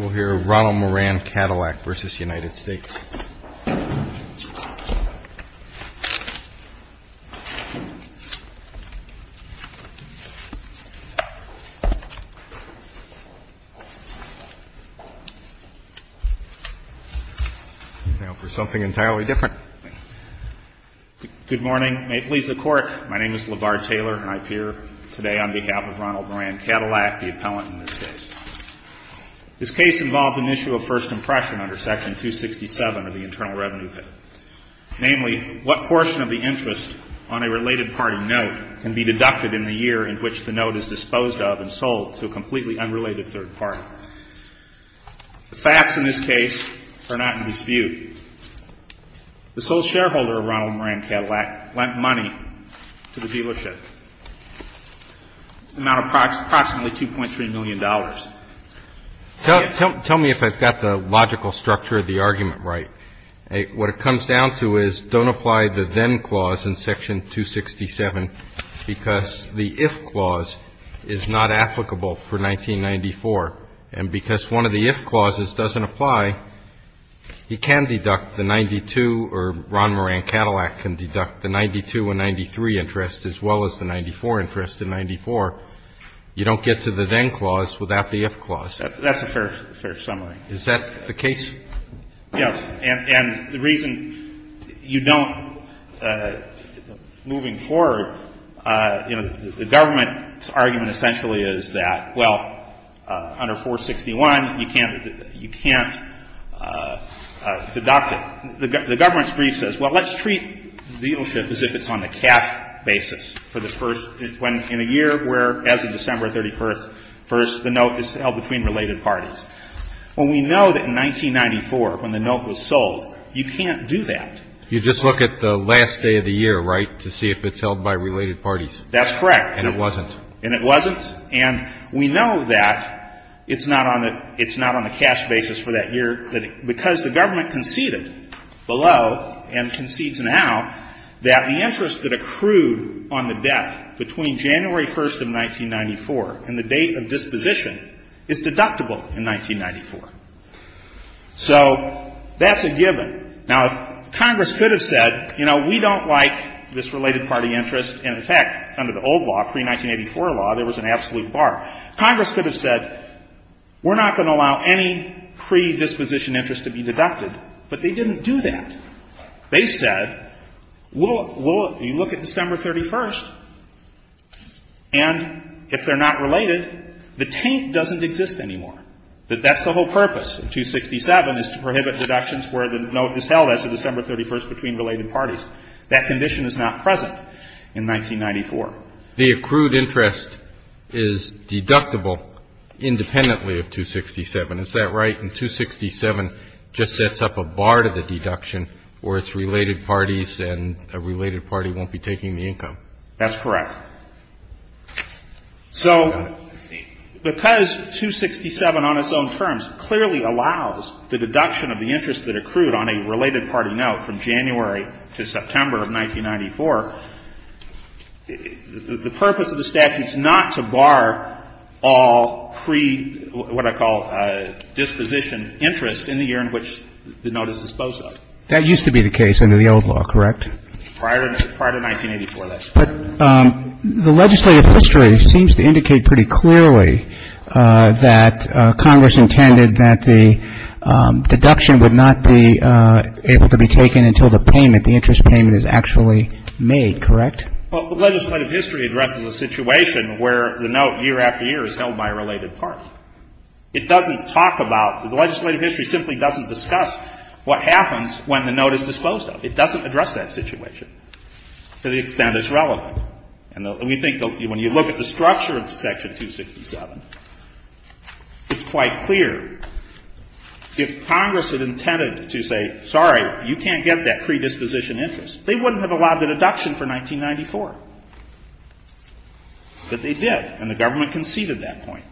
We'll hear Ronald Moran Cadillac v. United States. Now for something entirely different. Good morning. May it please the Court, my name is LeVar Taylor and I appear today on behalf of Ronald Moran Cadillac, the appellant in this case. This case involves an issue of first impression under Section 267 of the Internal Revenue Bill. Namely, what portion of the interest on a related party note can be deducted in the year in which the note is disposed of and sold to a completely unrelated third party? The facts in this case are not in dispute. The sole shareholder of Ronald Moran Cadillac lent money to the dealership, an amount of approximately $2.3 million. Tell me if I've got the logical structure of the argument right. What it comes down to is don't apply the then clause in Section 267 because the if clause is not applicable for 1994. And because one of the if clauses doesn't apply, he can deduct the 92 or Ronald Moran Cadillac can deduct the 92 and 93 interest as well as the 94 interest in 94. You don't get to the then clause without the if clause. That's a fair summary. Is that the case? Yes. And the reason you don't, moving forward, you know, the government's argument essentially is that, well, under 461, you can't deduct it. The government's brief says, well, let's treat the dealership as if it's on a cash basis for the first, when in a year where as of December 31st, the note is held between related parties. Well, we know that in 1994, when the note was sold, you can't do that. You just look at the last day of the year, right, to see if it's held by related parties. That's correct. And it wasn't. And it wasn't. And we know that it's not on the cash basis for that year because the government conceded below and concedes now that the interest that accrued on the debt between January 1st of 1994 and the date of disposition is deductible in 1994. So that's a given. Now, if Congress could have said, you know, we don't like this related party interest and, in fact, under the old law, pre-1984 law, there was an absolute bar, Congress could have said, we're not going to allow any predisposition interest to be deducted, but they didn't do that. They said, well, you look at December 31st, and if they're not related, the taint doesn't exist anymore. That's the whole purpose of 267 is to prohibit deductions where the note is held as of December 31st between related parties. That condition is not present in 1994. The accrued interest is deductible independently of 267. Is that right? And 267 just sets up a bar to the deduction where it's related parties and a related party won't be taking the income. That's correct. So because 267 on its own terms clearly allows the deduction of the interest that accrued on a related party note from January to September of 1994, the purpose of the statute is not to bar all pre-what I call disposition interest in the year in which the note is disposed of. That used to be the case under the old law, correct? Prior to 1984, that's correct. But the legislative history seems to indicate pretty clearly that Congress intended that the deduction would not be able to be taken until the payment, the interest payment is actually made, correct? Well, the legislative history addresses a situation where the note year after year is held by a related party. It doesn't talk about the legislative history simply doesn't discuss what happens when the note is disposed of. It doesn't address that situation to the extent it's relevant. And we think when you look at the structure of Section 267, it's quite clear if Congress had intended to say, sorry, you can't get that predisposition interest, they wouldn't have allowed the deduction for 1994. But they did, and the government conceded that point.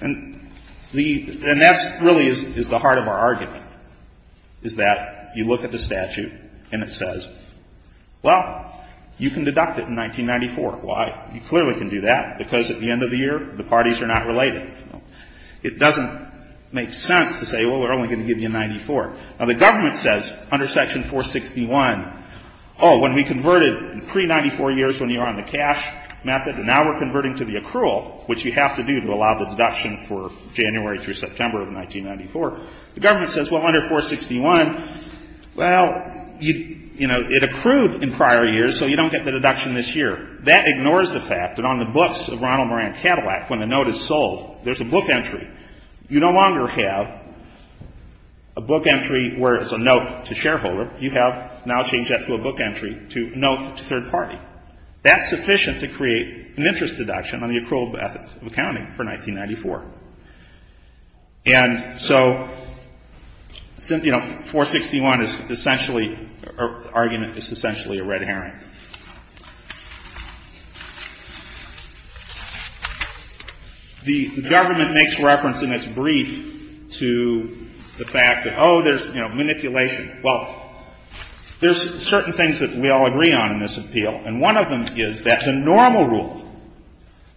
And that really is the heart of our argument, is that you look at the statute and it says Well, you can deduct it in 1994. Why? You clearly can do that, because at the end of the year, the parties are not related. It doesn't make sense to say, well, we're only going to give you 94. Now, the government says under Section 461, oh, when we converted in pre-'94 years when you were on the cash method, and now we're converting to the accrual, which you have to do to allow the deduction for January through September of 1994, the government says, well, under 461, well, you know, it accrued in prior years, so you don't get the deduction this year. That ignores the fact that on the books of Ronald Moran Cadillac, when the note is sold, there's a book entry. You no longer have a book entry where it's a note to shareholder. You have now changed that to a book entry to note to third party. That's sufficient to create an interest deduction on the accrual method of accounting for 1994. And so, you know, 461 is essentially, the argument is essentially a red herring. The government makes reference in its brief to the fact that, oh, there's, you know, manipulation. Well, there's certain things that we all agree on in this appeal, and one of them is that the normal rule,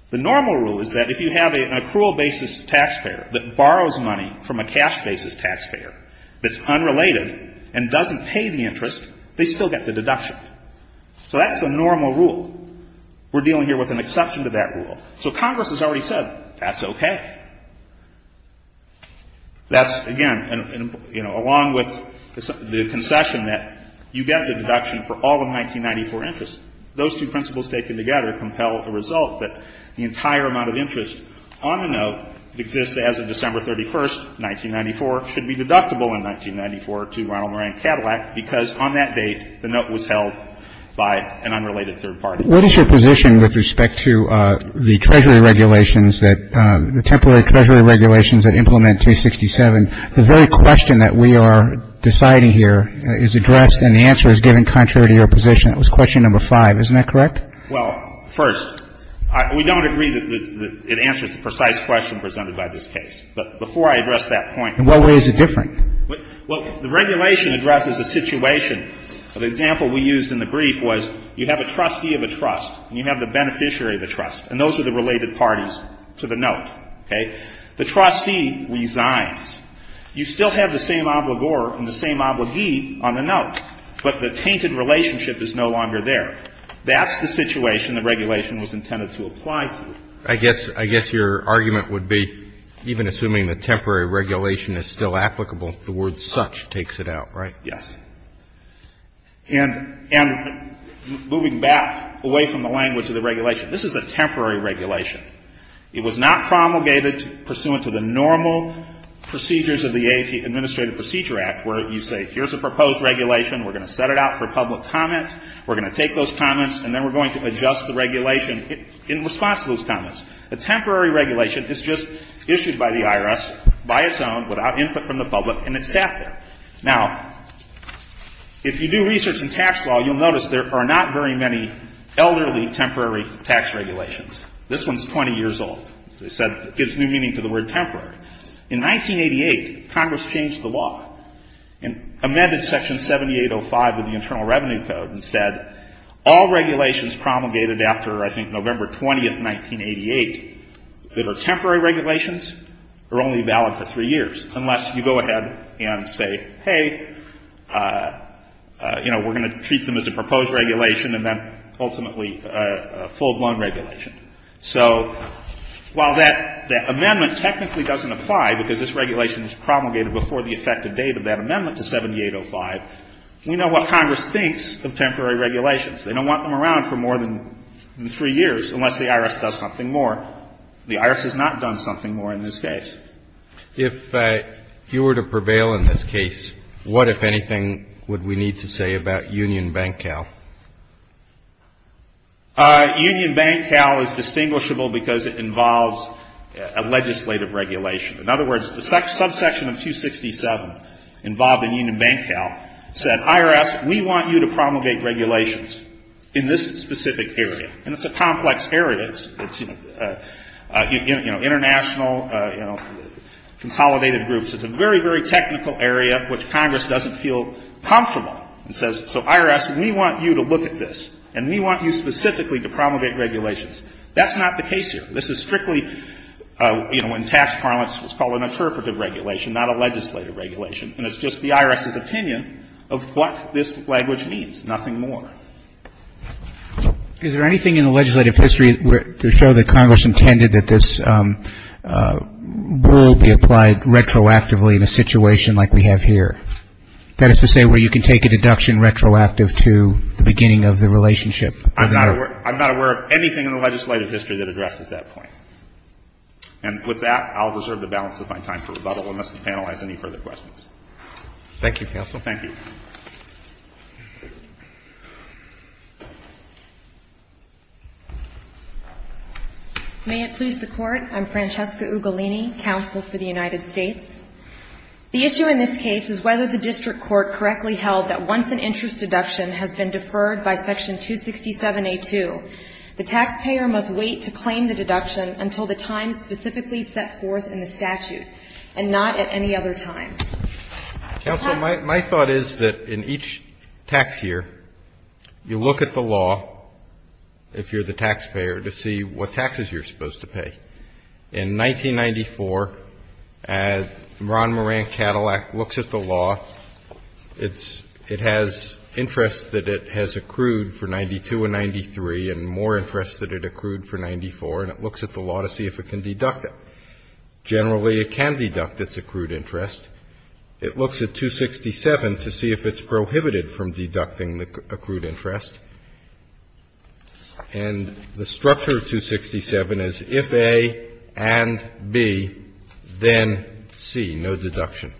the normal rule is that if you have an accrual basis taxpayer that borrows money from a cash basis taxpayer that's unrelated and doesn't pay the interest, they still get the deduction. So that's the normal rule. We're dealing here with an exception to that rule. So Congress has already said, that's okay. That's, again, you know, along with the concession that you get the deduction for all the 1994 interest, those two principles taken together compel a result that the entire amount of interest on a note exists as of December 31st, 1994, should be deductible in 1994 to Ronald Moran Cadillac because on that date the note was held by an unrelated third party. What is your position with respect to the Treasury regulations that, the temporary Treasury regulations that implement 267? The very question that we are deciding here is addressed and the answer is given contrary to your position. That was question number five. Isn't that correct? Well, first, we don't agree that it answers the precise question presented by this case. But before I address that point. In what way is it different? Well, the regulation addresses a situation. The example we used in the brief was you have a trustee of a trust and you have the beneficiary of a trust, and those are the related parties to the note. Okay? The trustee resigns. You still have the same obligor and the same obligee on the note, but the tainted relationship is no longer there. That's the situation the regulation was intended to apply to. I guess your argument would be, even assuming the temporary regulation is still applicable, the word such takes it out, right? Yes. And moving back away from the language of the regulation, this is a temporary regulation. It was not promulgated pursuant to the normal procedures of the Administrative Procedure Act where you say, here's a proposed regulation, we're going to set it out for public comment, we're going to take those comments, and then we're going to adjust the regulation in response to those comments. A temporary regulation is just issued by the IRS by its own, without input from the public, and it's sat there. Now, if you do research in tax law, you'll notice there are not very many elderly temporary tax regulations. This one's 20 years old. As I said, it gives new meaning to the word temporary. In 1988, Congress changed the law and amended Section 7805 of the Internal Revenue Code and said, all regulations promulgated after, I think, November 20, 1988, that are temporary regulations are only valid for three years, unless you go ahead and say, hey, you know, we're going to treat them as a proposed regulation and then ultimately a full-blown regulation. So while that amendment technically doesn't apply because this regulation was promulgated before the effective date of that amendment to 7805, we know what Congress thinks of temporary regulations. They don't want them around for more than three years unless the IRS does something more. The IRS has not done something more in this case. If you were to prevail in this case, what, if anything, would we need to say about Union Bank Cal? Union Bank Cal is distinguishable because it involves a legislative regulation. In other words, the subsection of 267 involved in Union Bank Cal said, IRS, we want you to promulgate regulations in this specific area. And it's a complex area. It's, you know, international, you know, consolidated groups. It's a very, very technical area, which Congress doesn't feel comfortable. It says, so IRS, we want you to look at this, and we want you specifically to promulgate regulations. That's not the case here. This is strictly, you know, in tax parlance what's called an interpretive regulation, not a legislative regulation. And it's just the IRS's opinion of what this language means, nothing more. Is there anything in the legislative history to show that Congress intended that this rule be applied retroactively in a situation like we have here? That is to say where you can take a deduction retroactive to the beginning of the relationship. I'm not aware of anything in the legislative history that addresses that point. And with that, I'll reserve the balance of my time for rebuttal unless the panel has any further questions. Thank you, counsel. Thank you. May it please the Court. I'm Francesca Ugolini, counsel for the United States. The issue in this case is whether the district court correctly held that once an interest deduction has been deferred by Section 267A2, the taxpayer must wait to claim the deduction until the time specifically set forth in the statute and not at any other time. Counsel, my thought is that in each tax year, you look at the law, if you're the taxpayer, to see what taxes you're supposed to pay. In 1994, as Ron Moran Cadillac looks at the law, it has interest that it has accrued for 92 and 93 and more interest that it accrued for 94, and it looks at the law to see if it can deduct it. Generally, it can deduct its accrued interest. It looks at 267 to see if it's prohibited from deducting the accrued interest. And the structure of 267 is if A and B, then C, no deduction.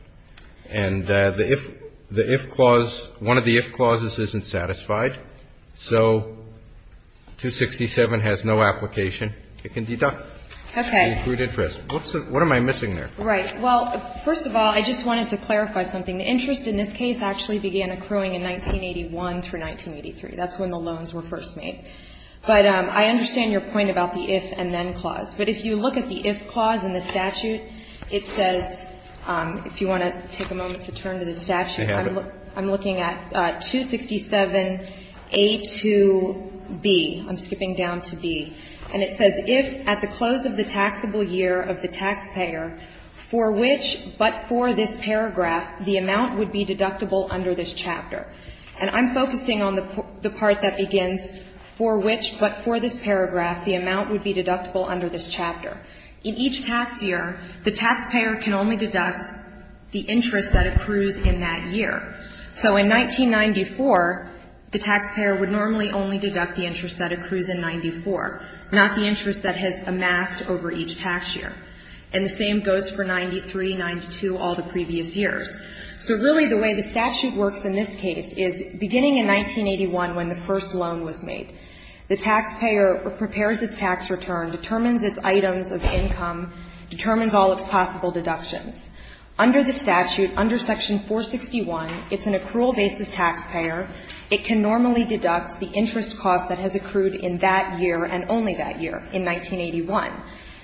And the if clause, one of the if clauses isn't satisfied, so 267 has no application. It can deduct the accrued interest. What am I missing there? Right. Well, first of all, I just wanted to clarify something. The interest in this case actually began accruing in 1981 through 1983. That's when the loans were first made. But I understand your point about the if and then clause. But if you look at the if clause in the statute, it says, if you want to take a moment to turn to the statute, I'm looking at 267A to B. I'm skipping down to B. And it says, if at the close of the taxable year of the taxpayer, for which but for this paragraph, the amount would be deductible under this chapter. And I'm focusing on the part that begins, for which but for this paragraph, the amount would be deductible under this chapter. In each tax year, the taxpayer can only deduct the interest that accrues in that year. So in 1994, the taxpayer would normally only deduct the interest that accrues in 94, not the interest that has amassed over each tax year. And the same goes for 93, 92, all the previous years. So really the way the statute works in this case is beginning in 1981 when the first loan was made. The taxpayer prepares its tax return, determines its items of income, determines all its possible deductions. Under the statute, under Section 461, it's an accrual basis taxpayer. It can normally deduct the interest cost that has accrued in that year and only that year, in 1981.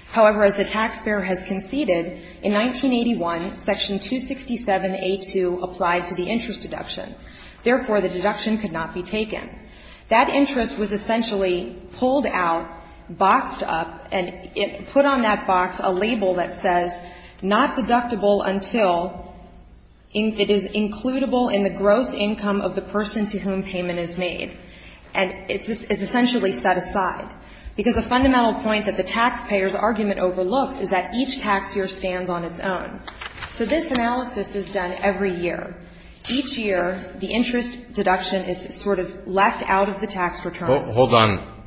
However, as the taxpayer has conceded, in 1981, Section 267A2 applied to the interest deduction. Therefore, the deduction could not be taken. That interest was essentially pulled out, boxed up, and put on that box a label that says, not deductible until it is includable in the gross income of the person to whom payment is made. And it's essentially set aside. Because a fundamental point that the taxpayer's argument overlooks is that each tax year stands on its own. So this analysis is done every year. Each year, the interest deduction is sort of left out of the tax return. Hold on.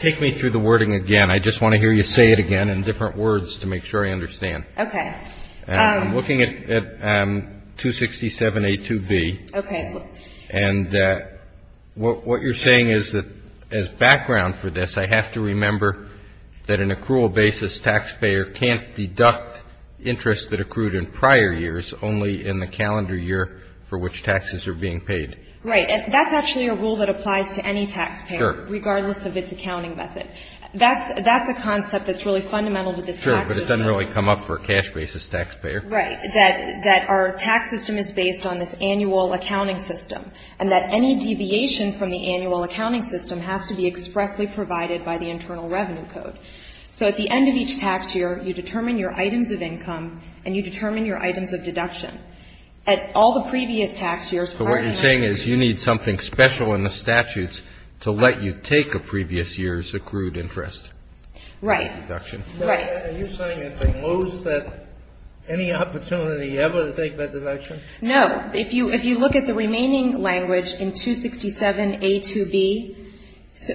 Take me through the wording again. I just want to hear you say it again in different words to make sure I understand. Okay. I'm looking at 267A2B. Okay. And what you're saying is that as background for this, I have to remember that an accrual basis taxpayer can't deduct interest that accrued in prior years, only in the calendar year for which taxes are being paid. Right. And that's actually a rule that applies to any taxpayer, regardless of its accounting method. That's a concept that's really fundamental to this tax system. Sure, but it doesn't really come up for a cash basis taxpayer. Right. That our tax system is based on this annual accounting system, and that any deviation from the annual accounting system has to be expressly provided by the Internal Revenue Code. So at the end of each tax year, you determine your items of income, and you determine your items of deduction. At all the previous tax years prior to that. So what you're saying is you need something special in the statutes to let you take a previous year's accrued interest. Right. Deduction. Right. Are you saying that they lose that any opportunity ever to take that deduction? No. If you look at the remaining language in 267A2B,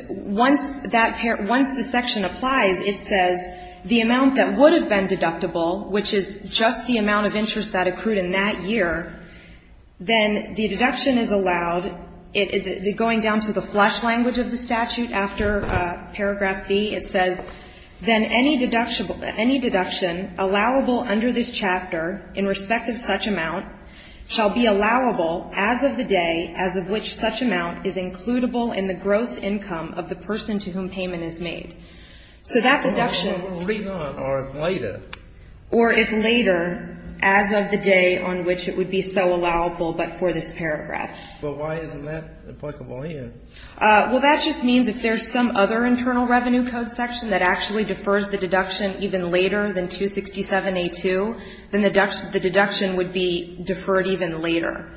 once the section applies, it says the amount that would have been deductible, which is just the amount of interest that accrued in that year, then the deduction is allowed, going down to the flesh language of the statute after paragraph B, it says, then any deduction allowable under this chapter in respect of such amount shall be allowable as of the day as of which such amount is includable in the gross income of the person to whom payment is made. So that deduction. But what if later? Or if later, as of the day on which it would be so allowable but for this paragraph. But why isn't that applicable here? Well, that just means if there's some other internal revenue code section that actually defers the deduction even later than 267A2, then the deduction would be deferred even later.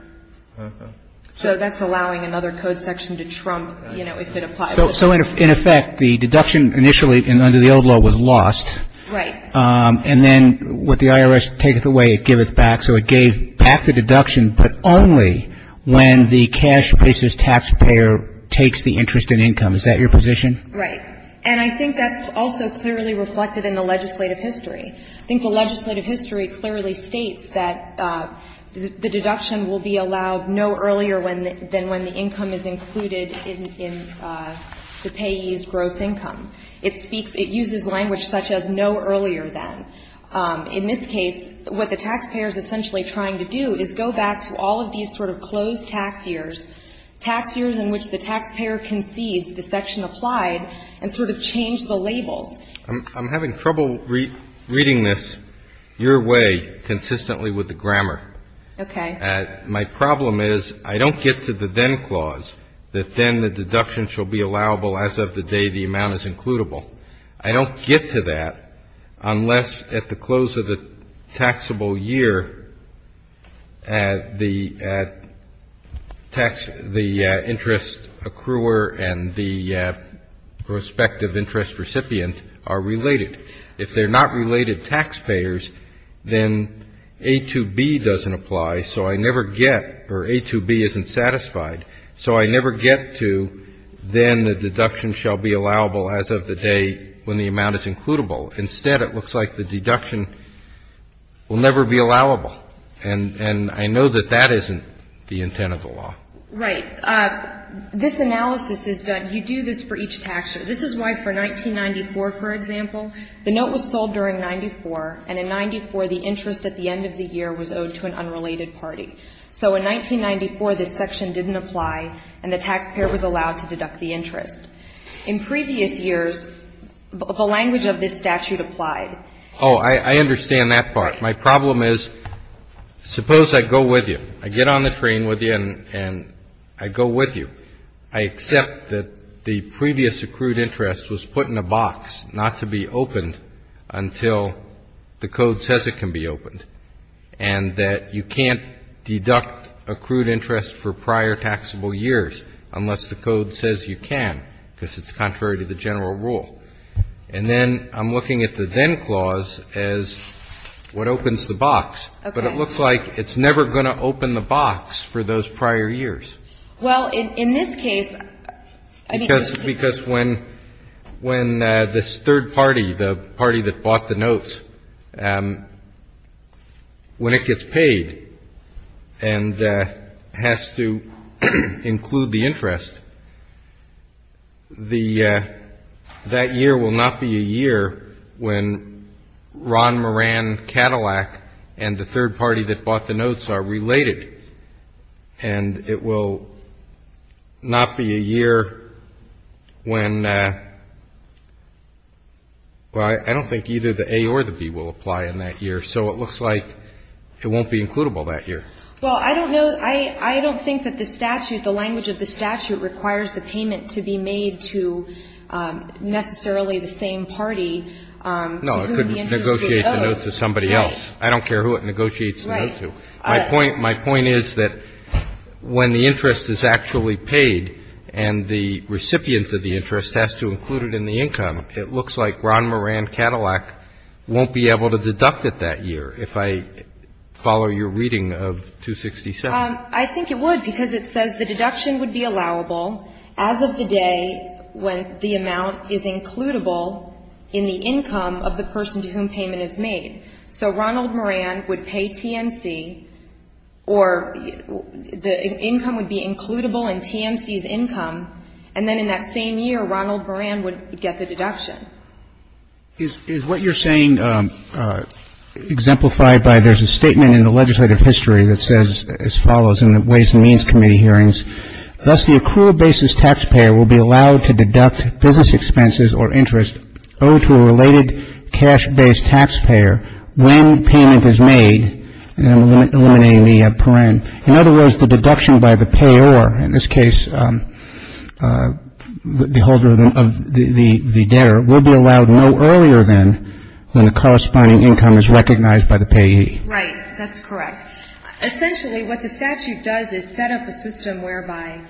So that's allowing another code section to trump, you know, if it applies. So in effect, the deduction initially under the old law was lost. Right. And then with the IRS taketh away, it giveth back. So it gave back the deduction, but only when the cash basis taxpayer takes the interest in income. Is that your position? Right. And I think that's also clearly reflected in the legislative history. I think the legislative history clearly states that the deduction will be allowed no earlier than when the income is included in the payee's gross income. It speaks — it uses language such as no earlier than. In this case, what the taxpayer is essentially trying to do is go back to all of these sort of closed tax years, tax years in which the taxpayer concedes the section applied and sort of change the labels. I'm having trouble reading this your way consistently with the grammar. Okay. My problem is I don't get to the then clause that then the deduction shall be allowable as of the day the amount is includable. I don't get to that unless at the close of the taxable year the interest accruer and the prospective interest recipient are related. If they're not related taxpayers, then A2B doesn't apply, so I never get — or A2B isn't satisfied, so I never get to then the deduction shall be allowable as of the day when the amount is includable. Instead, it looks like the deduction will never be allowable. And I know that that isn't the intent of the law. Right. This analysis is done — you do this for each tax year. This is why for 1994, for example, the note was sold during 94, and in 94, the interest at the end of the year was owed to an unrelated party. So in 1994, this section didn't apply, and the taxpayer was allowed to deduct the interest. In previous years, the language of this statute applied. Oh, I understand that part. My problem is suppose I go with you. I get on the train with you, and I go with you. I accept that the previous accrued interest was put in a box not to be opened until the code says it can be opened, and that you can't deduct accrued interest for prior taxable years unless the code says you can, because it's contrary to the general rule. And then I'm looking at the then clause as what opens the box. Okay. But it looks like it's never going to open the box for those prior years. Well, in this case, I mean — Because when this third party, the party that bought the notes, when it gets paid and has to include the interest, that year will not be a year when Ron Moran Cadillac and the third party that bought the notes are related, and it will not be a year when — well, I don't think either the A or the B will apply in that year. So it looks like it won't be includable that year. Well, I don't know — I don't think that the statute, the language of the statute requires the payment to be made to necessarily the same party to whom the interest is owed. No, it could negotiate the note to somebody else. Right. I don't care who it negotiates the note to. My point — my point is that when the interest is actually paid and the recipient of the interest has to include it in the income, it looks like Ron Moran Cadillac won't be able to deduct it that year, if I follow your reading of 267. I think it would, because it says the deduction would be allowable as of the day when the amount is includable in the income of the person to whom payment is made. So Ronald Moran would pay TMC, or the income would be includable in TMC's income, and then in that same year Ronald Moran would get the deduction. Is what you're saying exemplified by there's a statement in the legislative history that says as follows in the Ways and Means Committee hearings, thus the accrual basis taxpayer will be allowed to deduct business expenses or interest owed to a related cash-based taxpayer when payment is made. And I'm eliminating the paren. In other words, the deduction by the payer, in this case the holder of the debtor, will be allowed no earlier than when the corresponding income is recognized by the payee. Right. That's correct. Essentially what the statute does is set up a system whereby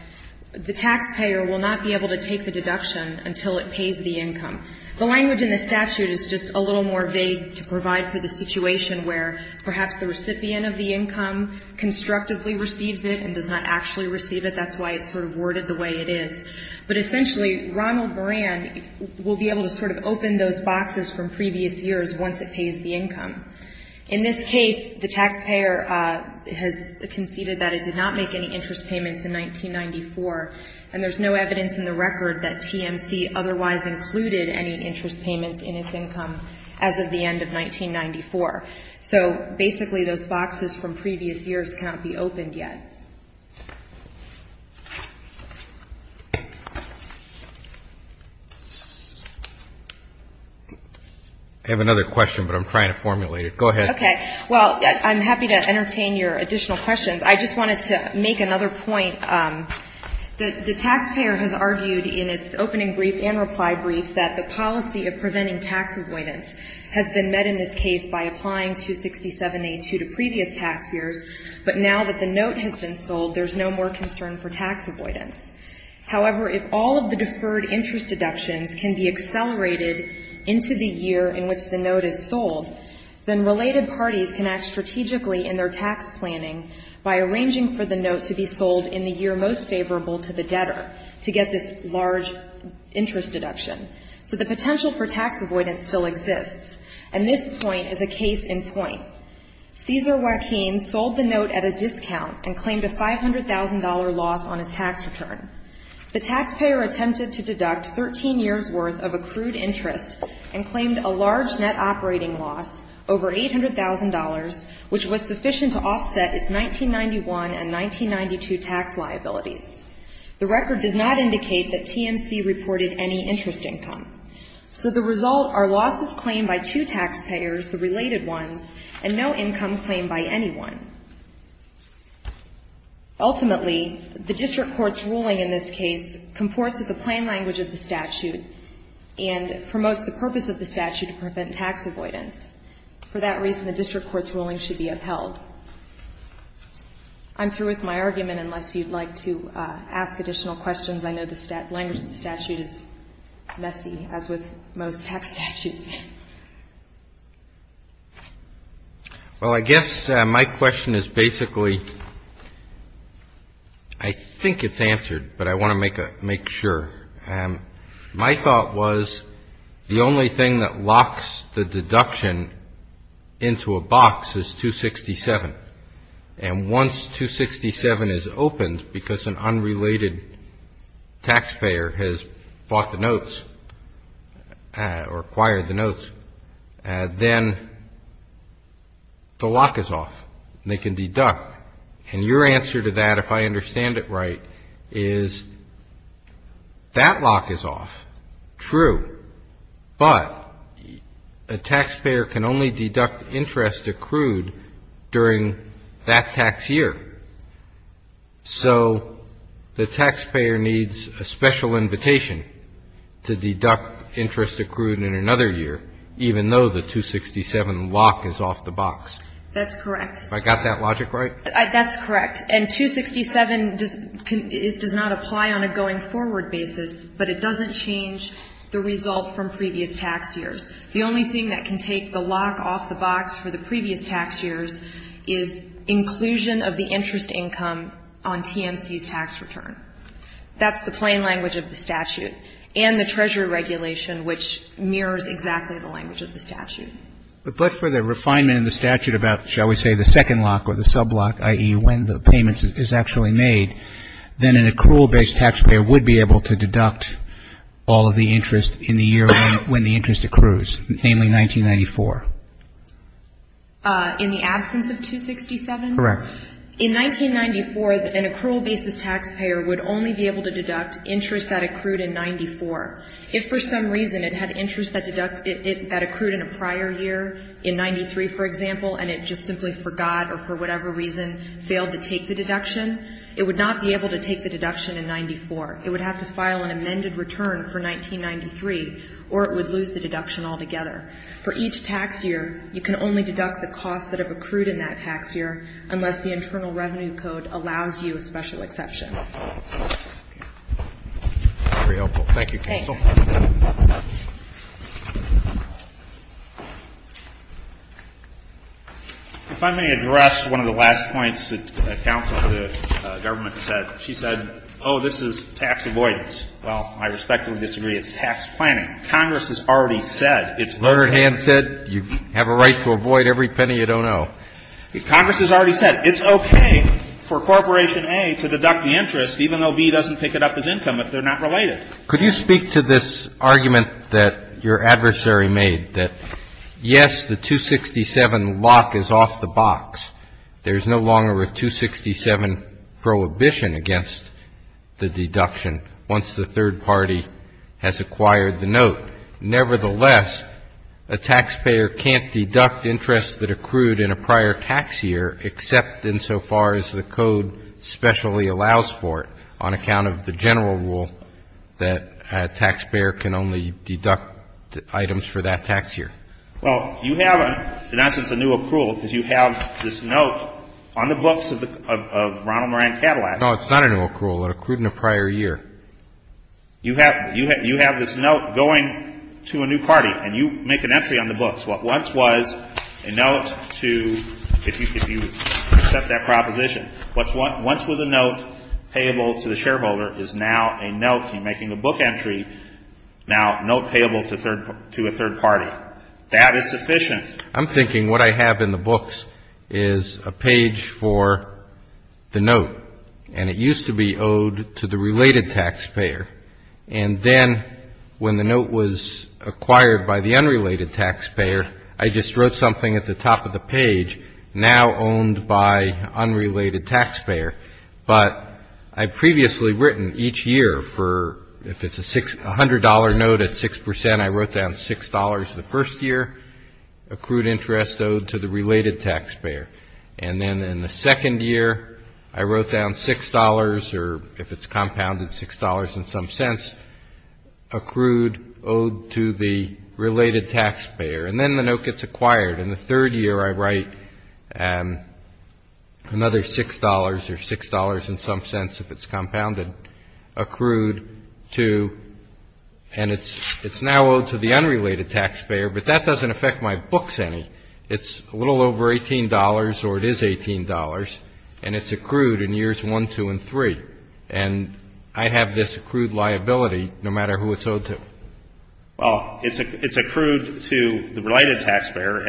the taxpayer will not be able to take the deduction until it pays the income. The language in the statute is just a little more vague to provide for the situation where perhaps the recipient of the income constructively receives it and does not actually receive it. That's why it's sort of worded the way it is. But essentially Ronald Moran will be able to sort of open those boxes from previous years once it pays the income. In this case, the taxpayer has conceded that it did not make any interest payments in 1994, and there's no evidence in the record that TMC otherwise included any interest payments in its income as of the end of 1994. So basically those boxes from previous years cannot be opened yet. I have another question, but I'm trying to formulate it. Go ahead. Okay. Well, I'm happy to entertain your additional questions. I just wanted to make another point. The taxpayer has argued in its opening brief and reply brief that the policy of preventing tax avoidance has been met in this case by applying 267A2 to previous tax years, but now that the note has been sold, there's no more concern for tax avoidance. However, if all of the deferred interest deductions can be accelerated into the year in which the note is sold, then related parties can act strategically in their tax planning by arranging for the note to be sold in the year most favorable to the debtor to get this large interest deduction. So the potential for tax avoidance still exists. And this point is a case in point. Cesar Joaquin sold the note at a discount and claimed a $500,000 loss on his tax return. The taxpayer attempted to deduct 13 years' worth of accrued interest and claimed a large net operating loss, over $800,000, which was sufficient to offset its 1991 and 1992 tax liabilities. The record does not indicate that TMC reported any interest income. So the result are losses claimed by two taxpayers, the related ones, and no income claimed by anyone. Ultimately, the district court's ruling in this case comports with the plain language of the statute and promotes the purpose of the statute to prevent tax avoidance. For that reason, the district court's ruling should be upheld. I'm through with my argument unless you'd like to ask additional questions. I know the language of the statute is messy, as with most tax statutes. Well, I guess my question is basically, I think it's answered, but I want to make sure. My thought was the only thing that locks the deduction into a box is 267. And once 267 is opened because an unrelated taxpayer has bought the notes or acquired the notes, then the lock is off and they can deduct. And your answer to that, if I understand it right, is that lock is off. True. But a taxpayer can only deduct interest accrued during that tax year. So the taxpayer needs a special invitation to deduct interest accrued in another year, even though the 267 lock is off the box. That's correct. Have I got that logic right? That's correct. And 267, it does not apply on a going forward basis, but it doesn't change the result from previous tax years. The only thing that can take the lock off the box for the previous tax years is inclusion of the interest income on TMC's tax return. That's the plain language of the statute and the Treasury regulation, which mirrors exactly the language of the statute. But for the refinement of the statute about, shall we say, the second lock or the sublock, i.e., when the payment is actually made, then an accrual-based taxpayer would be able to deduct all of the interest in the year when the interest accrues, namely 1994. In the absence of 267? Correct. In 1994, an accrual-basis taxpayer would only be able to deduct interest that accrued in 94. If for some reason it had interest that accrued in a prior year, in 93, for example, and it just simply forgot or for whatever reason failed to take the deduction, it would not be able to take the deduction in 94. It would have to file an amended return for 1993, or it would lose the deduction altogether. For each tax year, you can only deduct the costs that have accrued in that tax year unless the Internal Revenue Code allows you a special exception. Thank you, counsel. If I may address one of the last points that counsel for the government said. She said, oh, this is tax avoidance. Well, I respectfully disagree. It's tax planning. Congress has already said it's okay. Leonard Hand said you have a right to avoid every penny you don't owe. Congress has already said it's okay for Corporation A to deduct the interest, even though B doesn't pick it up as income if they're not related. Could you speak to this argument that your adversary made, that, yes, the 267 lock is off the box. There is no longer a 267 prohibition against the deduction once the third party has acquired the note. Nevertheless, a taxpayer can't deduct interest that accrued in a prior tax year except insofar as the code specially allows for it on account of the general rule that a taxpayer can only deduct items for that tax year. Well, you have, in essence, a new accrual because you have this note on the books of Ronald Moran Cadillac. No, it's not a new accrual. It accrued in a prior year. You have this note going to a new party, and you make an entry on the books. What once was a note to, if you accept that proposition, what once was a note payable to the shareholder is now a note. You're making a book entry now note payable to a third party. That is sufficient. I'm thinking what I have in the books is a page for the note, and it used to be owed to the related taxpayer. And then when the note was acquired by the unrelated taxpayer, I just wrote something at the top of the page, now owned by unrelated taxpayer. But I've previously written each year for, if it's a $100 note at 6%, I wrote down $6 the first year, accrued interest owed to the related taxpayer. And then in the second year, I wrote down $6, or if it's compounded, $6 in some sense, accrued owed to the related taxpayer. And then the note gets acquired. In the third year, I write another $6, or $6 in some sense, if it's compounded, accrued to, and it's now owed to the unrelated taxpayer, but that doesn't affect my books any. It's a little over $18, or it is $18, and it's accrued in years 1, 2, and 3. And I have this accrued liability no matter who it's owed to. Well, it's accrued to the related taxpayer,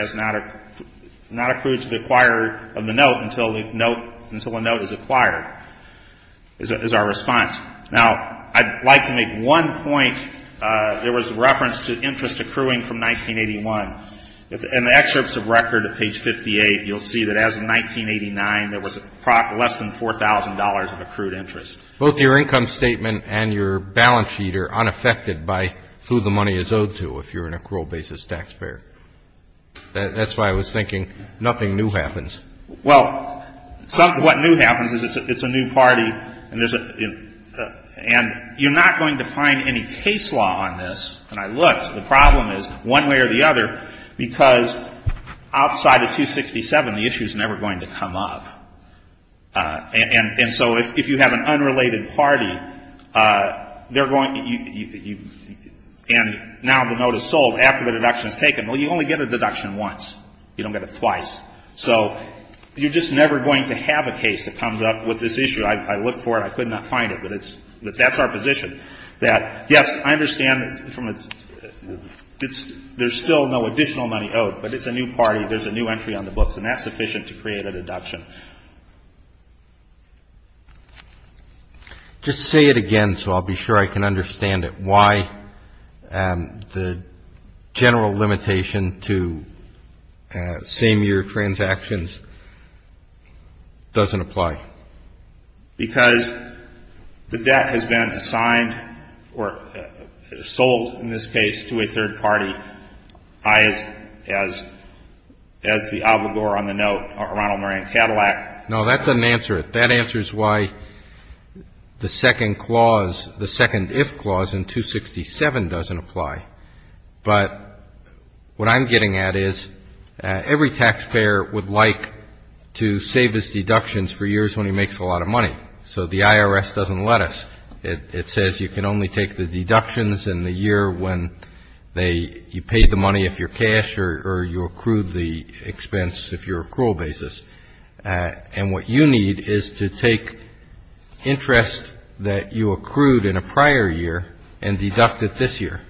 not accrued to the acquirer of the note until a note is acquired, is our response. Now, I'd like to make one point. There was a reference to interest accruing from 1981. In the excerpts of record at page 58, you'll see that as of 1989, there was less than $4,000 of accrued interest. Both your income statement and your balance sheet are unaffected by who the money is owed to if you're an accrual basis taxpayer. That's why I was thinking nothing new happens. Well, what new happens is it's a new party, and you're not going to find any case law on this. And I looked. The problem is, one way or the other, because outside of 267, the issue is never going to come up. And so if you have an unrelated party, they're going to – and now the note is sold after the deduction is taken. Well, you only get a deduction once. You don't get it twice. So you're just never going to have a case that comes up with this issue. I looked for it. I could not find it. But that's our position. That, yes, I understand there's still no additional money owed, but it's a new party. There's a new entry on the books, and that's sufficient to create a deduction. Just say it again so I'll be sure I can understand it. Why the general limitation to same-year transactions doesn't apply? Because the debt has been assigned or sold, in this case, to a third party, as the obligor on the note, Ronald Moran Cadillac. No, that doesn't answer it. That answers why the second clause, the second if clause in 267 doesn't apply. But what I'm getting at is every taxpayer would like to save his deductions for years when he makes a lot of money. So the IRS doesn't let us. It says you can only take the deductions in the year when you paid the money if you're cash or you accrued the expense if you're accrual basis. And what you need is to take interest that you accrued in a prior year and deduct it this year.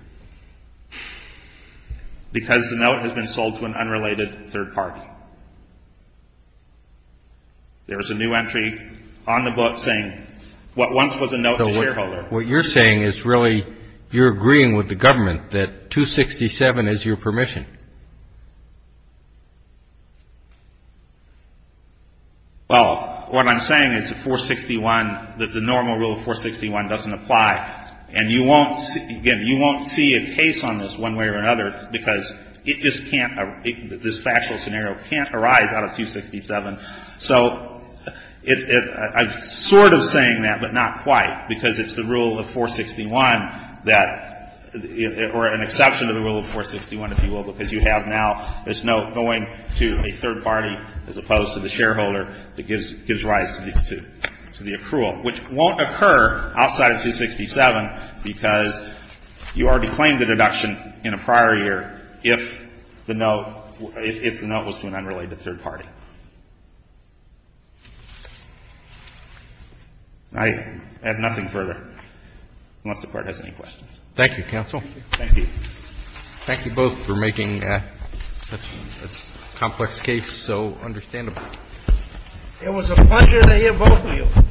Because the note has been sold to an unrelated third party. There is a new entry on the book saying what once was a note to shareholder. What you're saying is really you're agreeing with the government that 267 is your permission. Well, what I'm saying is the 461, the normal rule of 461 doesn't apply. And you won't see a case on this one way or another because it just can't, this factual scenario can't arise out of 267. So I'm sort of saying that, but not quite. Because it's the rule of 461 that, or an exception to the rule of 461, if you will, because you have now this note going to a third party as opposed to the shareholder that gives rise to the accrual, which won't occur outside of 267 because you already claimed a deduction in a prior year if the note was to an unrelated third party. I have nothing further unless the Court has any questions. Thank you, counsel. Thank you. Thank you both for making such a complex case so understandable. It was a pleasure to hear both of you.